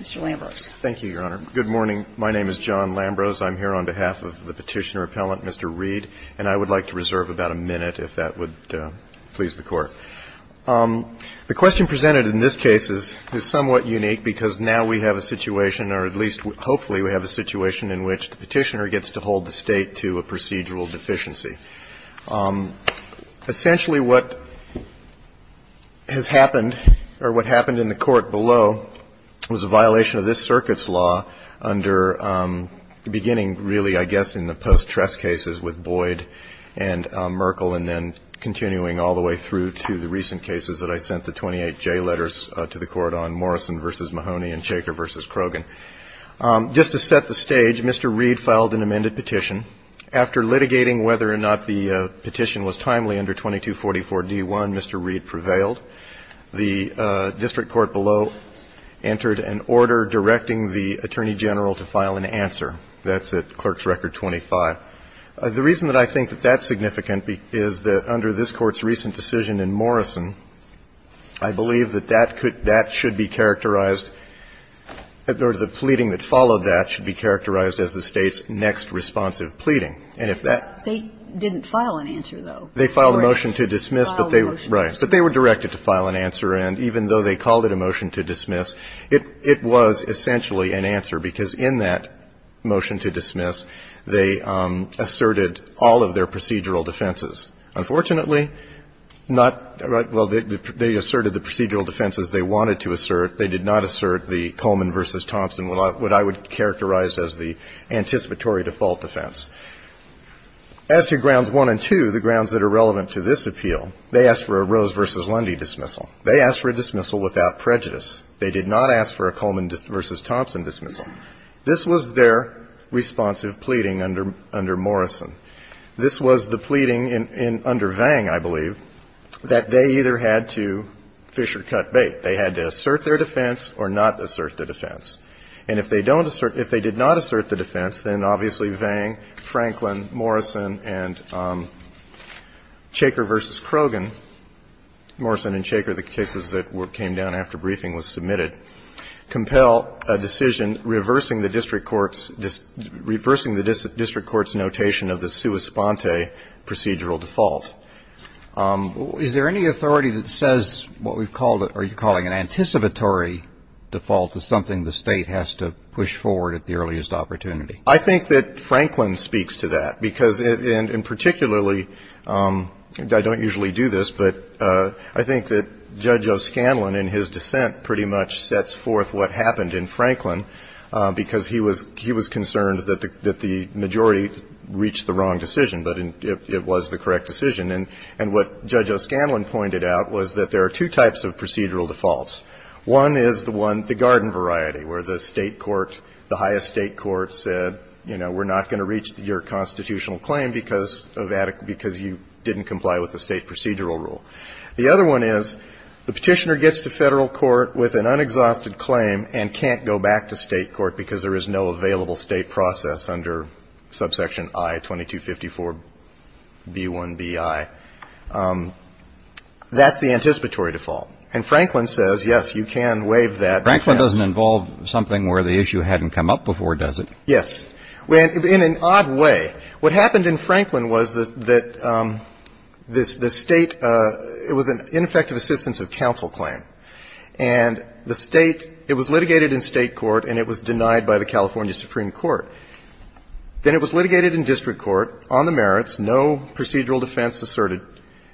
Mr. Lambrose. Thank you, Your Honor. Good morning. My name is John Lambrose. I'm here on behalf of the Petitioner Appellant, Mr. Reed, and I would like to reserve about a minute, if that would please the Court. The question presented in this case is somewhat unique because now we have a situation or at least hopefully we have a situation in which the Petitioner gets to hold the State to a procedural deficiency. Essentially what has happened or what happened in the Court below was a violation of this Circuit's law under beginning really I guess in the post-Trest cases with Boyd and Merkel and then continuing all the way through to the recent cases that I sent the 28J letters to the Court on Morrison v. Mahoney and Shaker v. Krogan. Just to set the stage, Mr. Reed filed an amended petition. After litigating whether or not the petition was timely under 2244d1, Mr. Reed prevailed. The district court below entered an order directing the Attorney General to file an answer. That's at Clerk's Record 25. The reason that I think that that's significant is that under this Court's recent decision in Morrison, I believe that that could, that should be characterized or the pleading that followed that should be characterized as the State's next responsive pleading. And if that. They didn't file an answer, though. They filed a motion to dismiss, but they were directed to file an answer. And even though they called it a motion to dismiss, it was essentially an answer because in that motion to dismiss, they asserted all of their procedural defenses. Unfortunately, not, well, they asserted the procedural defenses they wanted to assert. They did not assert the Coleman v. Thompson, what I would characterize as the anticipatory default defense. As to Grounds 1 and 2, the grounds that are relevant to this appeal, they asked for a Rose v. Lundy dismissal. They asked for a dismissal without prejudice. They did not ask for a Coleman v. Thompson dismissal. This was their responsive pleading under Morrison. This was the pleading under Vang, I believe, that they either had to fish or cut bait. They had to assert their defense or not assert the defense. And if they don't assert, if they did not assert the defense, then obviously Vang, Franklin, Morrison and Chaker v. Krogan, Morrison and Chaker, the cases that came down after briefing was submitted, compel a decision reversing the district court's notation of the sua sponte procedural default. Is there any authority that says what we've called, or you're calling an anticipatory default as something the State has to push forward at the earliest opportunity? I think that Franklin speaks to that, because in particularly, I don't usually do this, but I think that Judge O'Scanlan in his dissent pretty much sets forth what happened in Franklin, because he was concerned that the majority reached the wrong decision, but it was the correct decision. And what Judge O'Scanlan pointed out was that there are two types of procedural defaults. One is the one, the garden variety, where the State court, the highest State court said, you know, we're not going to reach your constitutional claim because you didn't comply with the State procedural rule. The other one is the Petitioner gets to Federal court with an unexhausted claim and can't go back to State court because there is no available State process under subsection I-2254-B1-Bi. That's the anticipatory default. And Franklin says, yes, you can waive that. Franklin doesn't involve something where the issue hadn't come up before, does it? Yes. In an odd way. What happened in Franklin was that the State, it was an ineffective assistance of counsel claim. And the State, it was litigated in State court and it was denied by the California Supreme Court. Then it was litigated in district court on the merits, no procedural defense asserted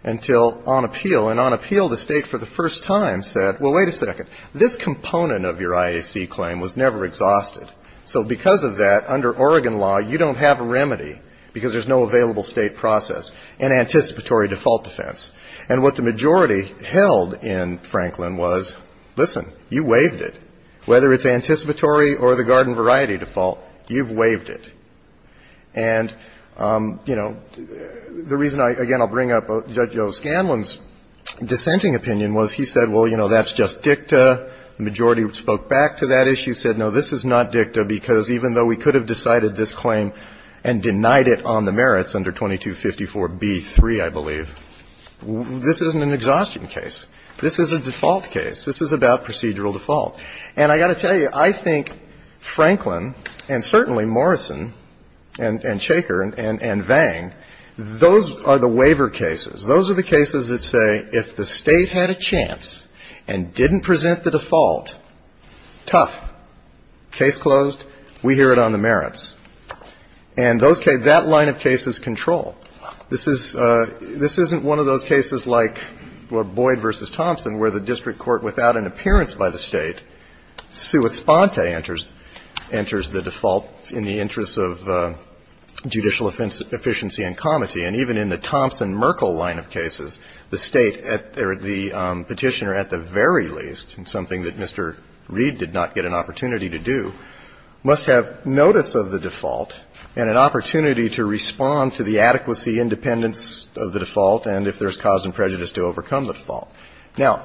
until on appeal. And on appeal, the State for the first time said, well, wait a second, this component of your IAC claim was never exhausted, so because of that, under Oregon law, you don't have a remedy because there is no available State process, an anticipatory default defense. And what the majority held in Franklin was, listen, you waived it. Whether it's anticipatory or the garden variety default, you've waived it. And, you know, the reason I, again, I'll bring up Judge O'Scanlan's dissenting opinion was he said, well, you know, that's just dicta. The majority spoke back to that issue, said, no, this is not dicta because even though we could have decided this claim and denied it on the merits under 2254b-3, I believe, this isn't an exhaustion case. This is a default case. This is about procedural default. And I've got to tell you, I think Franklin and certainly Morrison and Shaker and Vang, those are the waiver cases. Those are the cases that say if the State had a chance and didn't present the default, tough, case closed. We hear it on the merits. And those cases, that line of case is control. This is, this isn't one of those cases like Boyd v. Thompson where the district court, without an appearance by the State, sua sponte enters the default in the interest of judicial efficiency and comity. And even in the Thompson-Merkel line of cases, the State, or the Petitioner at the very least, something that Mr. Reed did not get an opportunity to do, must have notice of the default and an opportunity to respond to the adequacy, independence of the default and if there's cause and prejudice to overcome the default. Now,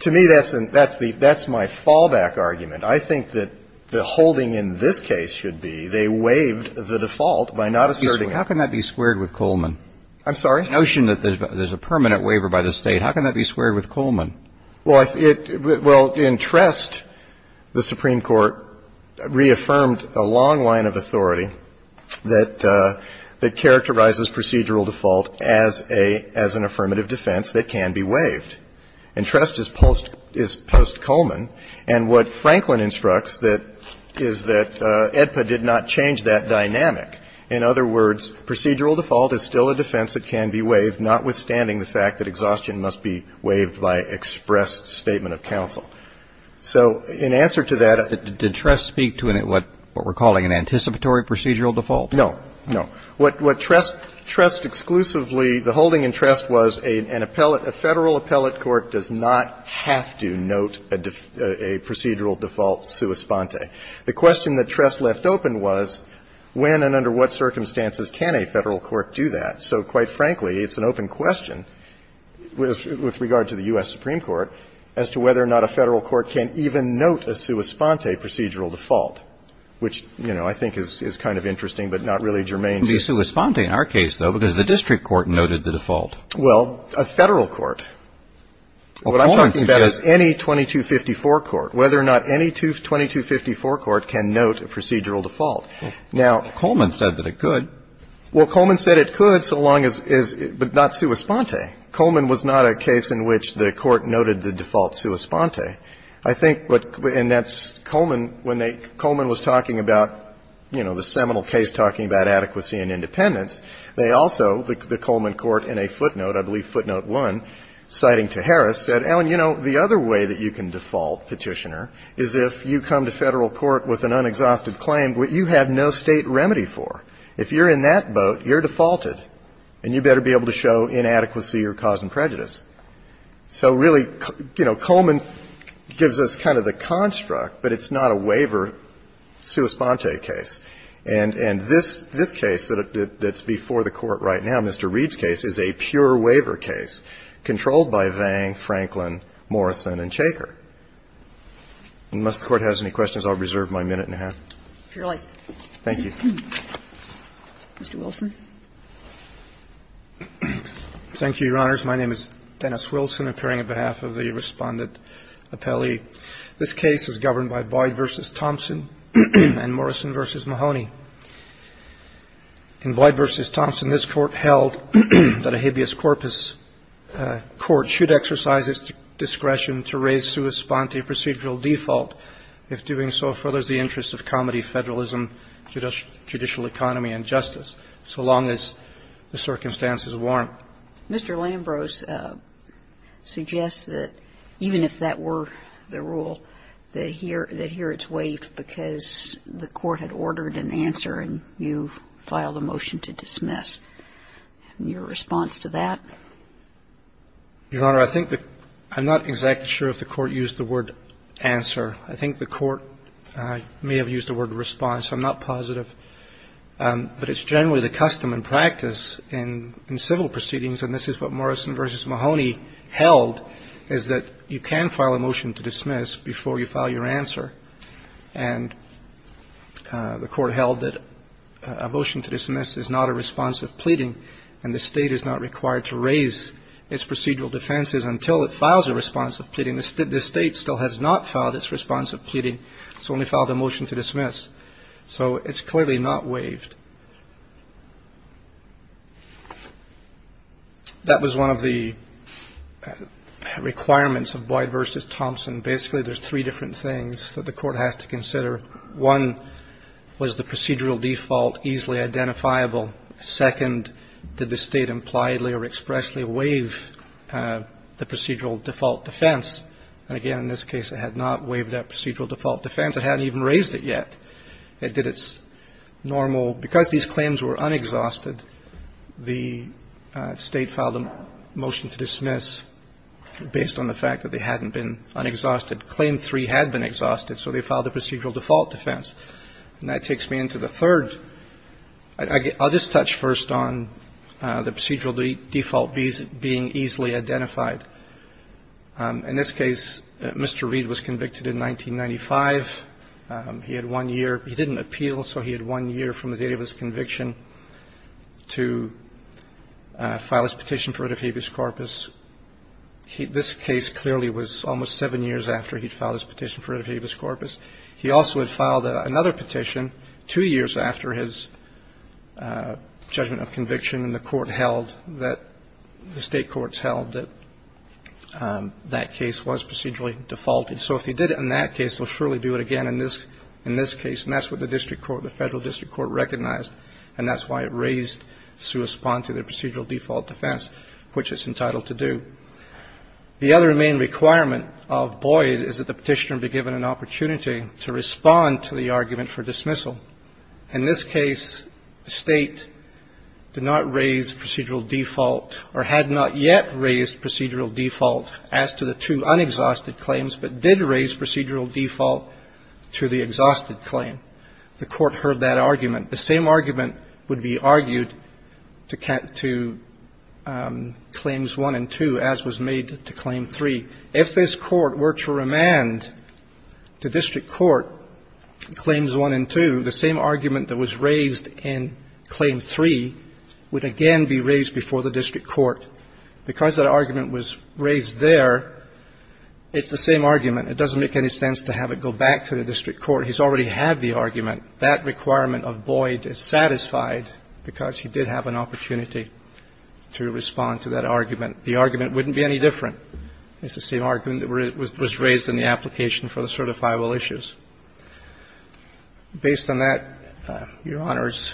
to me, that's the, that's my fallback argument. I think that the holding in this case should be they waived the default by not asserting it. How can that be squared with Coleman? I'm sorry? The notion that there's a permanent waiver by the State. How can that be squared with Coleman? Well, in Trest, the Supreme Court reaffirmed a long line of authority that characterizes procedural default as a, as an affirmative defense that can be waived. And Trest is post Coleman. And what Franklin instructs that, is that AEDPA did not change that dynamic. In other words, procedural default is still a defense that can be waived, notwithstanding the fact that exhaustion must be waived by express statement of counsel. So in answer to that. Did Trest speak to what we're calling an anticipatory procedural default? No. No. What Trest, Trest exclusively, the holding in Trest was an appellate, a Federal appellate court does not have to note a procedural default sua sponte. The question that Trest left open was, when and under what circumstances can a Federal court do that? So quite frankly, it's an open question, with regard to the U.S. Supreme Court, as to whether or not a Federal court can even note a sua sponte procedural default. Which, you know, I think is kind of interesting, but not really germane. It would be sua sponte in our case, though, because the district court noted the default. Well, a Federal court. What I'm talking about is any 2254 court. Whether or not any 2254 court can note a procedural default. Now Coleman said that it could. Well, Coleman said it could, so long as it's not sua sponte. Coleman was not a case in which the Court noted the default sua sponte. I think, and that's Coleman, when Coleman was talking about, you know, the seminal case talking about adequacy and independence, they also, the Coleman court, in a footnote, I believe footnote one, citing to Harris, said, Alan, you know, the other way that you can default, Petitioner, is if you come to Federal court with an unexhausted claim that you have no State remedy for. If you're in that boat, you're defaulted, and you better be able to show inadequacy or cause and prejudice. So really, you know, Coleman gives us kind of the construct, but it's not a waiver sua sponte case. And this case that's before the Court right now, Mr. Reed's case, is a pure waiver case controlled by Vang, Franklin, Morrison, and Chaker. Unless the Court has any questions, I'll reserve my minute and a half. Thank you. Mr. Wilson. Thank you, Your Honors. My name is Dennis Wilson, appearing on behalf of the Respondent Appellee. This case is governed by Boyd v. Thompson and Morrison v. Mahoney. In Boyd v. Thompson, this Court held that a habeas corpus court should exercise its discretion to raise sua sponte procedural default, if doing so furthers the interests of comedy, federalism, judicial economy, and justice, so long as the circumstances warrant. Mr. Lambrose suggests that even if that were the rule, that here it's waived because the Court had ordered an answer and you filed a motion to dismiss. Your response to that? Your Honor, I think that I'm not exactly sure if the Court used the word answer. I think the Court may have used the word response. I'm not positive. But it's generally the custom and practice in civil proceedings, and this is what Morrison v. Mahoney held, is that you can file a motion to dismiss before you file your answer, and the Court held that a motion to dismiss is not a response of pleading and the State is not required to raise its procedural defenses until it files a response of pleading. The State still has not filed its response of pleading. It's only filed a motion to dismiss. So it's clearly not waived. That was one of the requirements of Boyd v. Thompson. Basically, there's three different things that the Court has to consider. One was the procedural default easily identifiable. Second, did the State impliedly or expressly waive the procedural default defense? And, again, in this case, it had not waived that procedural default defense. It hadn't even raised it yet. It did its normal. Because these claims were unexhausted, the State filed a motion to dismiss based on the fact that they hadn't been unexhausted. Claim three had been exhausted, so they filed a procedural default defense. And that takes me into the third. I'll just touch first on the procedural default being easily identified. In this case, Mr. Reed was convicted in 1995. He had one year. He didn't appeal, so he had one year from the date of his conviction to file his petition for writ of habeas corpus. This case clearly was almost seven years after he'd filed his petition for writ of habeas corpus. He also had filed another petition two years after his judgment of conviction that the State courts held that that case was procedurally defaulted. So if he did it in that case, he'll surely do it again in this case. And that's what the district court, the Federal District Court, recognized. And that's why it raised to respond to the procedural default defense, which it's entitled to do. The other main requirement of Boyd is that the Petitioner be given an opportunity to respond to the argument for dismissal. In this case, the State did not raise procedural default, or had not yet raised procedural default as to the two unexhausted claims, but did raise procedural default to the exhausted claim. The court heard that argument. The same argument would be argued to Claims 1 and 2 as was made to Claim 3. If this Court were to remand to district court Claims 1 and 2, the same argument that was raised in Claim 3 would again be raised before the district court. Because that argument was raised there, it's the same argument. It doesn't make any sense to have it go back to the district court. He's already had the argument. That requirement of Boyd is satisfied because he did have an opportunity to respond to that argument. The argument wouldn't be any different. It's the same argument that was raised in the application for the certifiable issues. Based on that, Your Honors,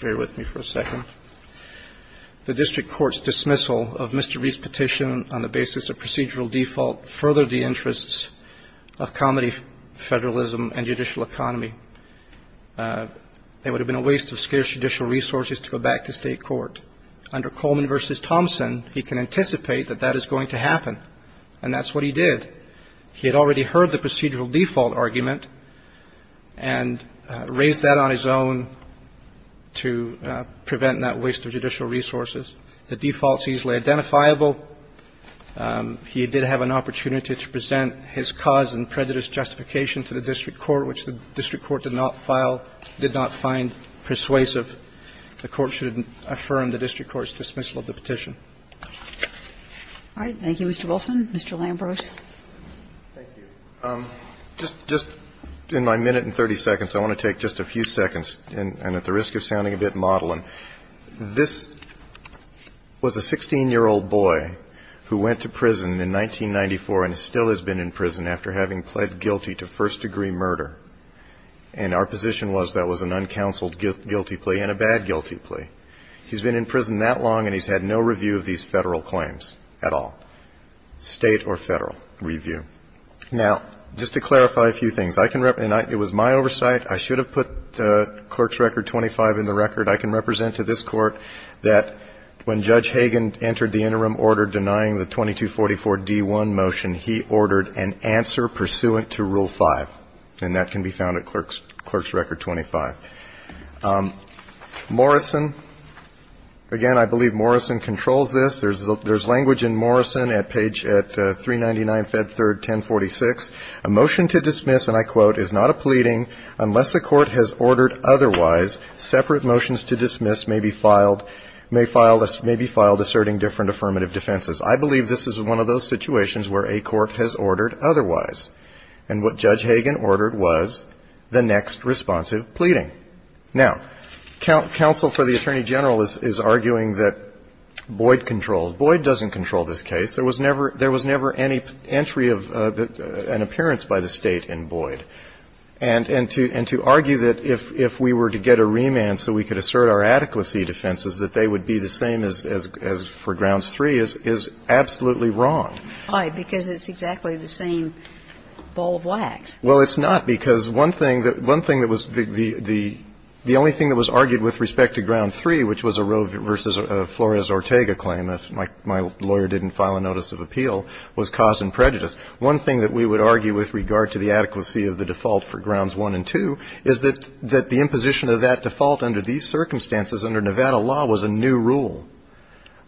bear with me for a second. The district court's dismissal of Mr. Reed's petition on the basis of procedural default furthered the interests of comedy, federalism, and judicial economy. It would have been a waste of scarce judicial resources to go back to state court. Under Coleman v. Thompson, he can anticipate that that is going to happen. And that's what he did. He had already heard the procedural default argument and raised that on his own to prevent that waste of judicial resources. The default is easily identifiable. He did have an opportunity to present his cause and prejudice justification to the district court, which the district court did not file, did not find persuasive. The court should affirm the district court's dismissal of the petition. All right. Thank you, Mr. Wilson. Mr. Lambros. Thank you. Just in my minute and 30 seconds, I want to take just a few seconds, and at the risk of sounding a bit maudlin. This was a 16-year-old boy who went to prison in 1994 and still has been in prison after having pled guilty to first-degree murder. And our position was that was an uncounseled guilty plea and a bad guilty plea. He's been in prison that long and he's had no review of these Federal claims at all, state or Federal review. Now, just to clarify a few things, I can rep and I – it was my oversight. I should have put Clerk's Record 25 in the record. I can represent to this Court that when Judge Hagan entered the interim order denying the 2244-D1 motion, he ordered an answer pursuant to Rule 5. And that can be found at Clerk's Record 25. Morrison, again, I believe Morrison controls this. There's language in Morrison at page – at 399, Fed 3rd, 1046. A motion to dismiss, and I quote, is not a pleading unless a court has ordered otherwise separate motions to dismiss may be filed – may be filed asserting different affirmative defenses. I believe this is one of those situations where a court has ordered otherwise. And what Judge Hagan ordered was the next responsive pleading. Now, counsel for the Attorney General is arguing that Boyd controls. Boyd doesn't control this case. There was never any entry of an appearance by the State in Boyd. And to argue that if we were to get a remand so we could assert our adequacy defenses, that they would be the same as for Grounds 3 is absolutely wrong. Why? Because it's exactly the same ball of wax. Well, it's not, because one thing that was the only thing that was argued with respect to Ground 3, which was a Roe v. Flores-Ortega claim, my lawyer didn't file a notice of appeal, was cause and prejudice. One thing that we would argue with regard to the adequacy of the default for Grounds 1 and 2 is that the imposition of that default under these circumstances under Nevada law was a new rule.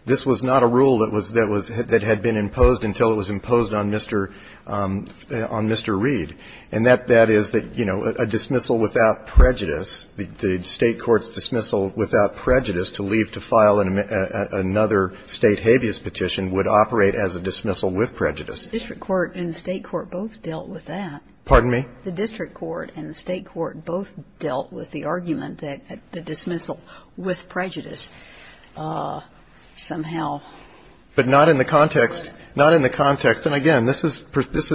This was not a rule that was – that had been imposed until it was imposed on Mr. Reid. And that is that, you know, a dismissal without prejudice, the State court's dismissal without prejudice to leave to file another State habeas petition would operate as a dismissal with prejudice. District court and the State court both dealt with that. Pardon me? The district court and the State court both dealt with the argument that the dismissal with prejudice somehow. But not in the context – not in the context – and again, this is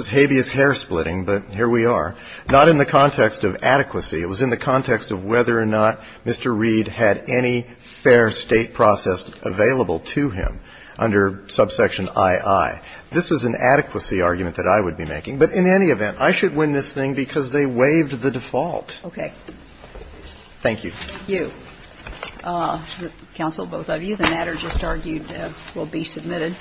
habeas hair splitting, but here we are. Not in the context of adequacy. It was in the context of whether or not Mr. Reid had any fair State process available to him under subsection ii. This is an adequacy argument that I would be making. But in any event, I should win this thing because they waived the default. Okay. Thank you. Thank you. Counsel, both of you. The matter just argued will be submitted.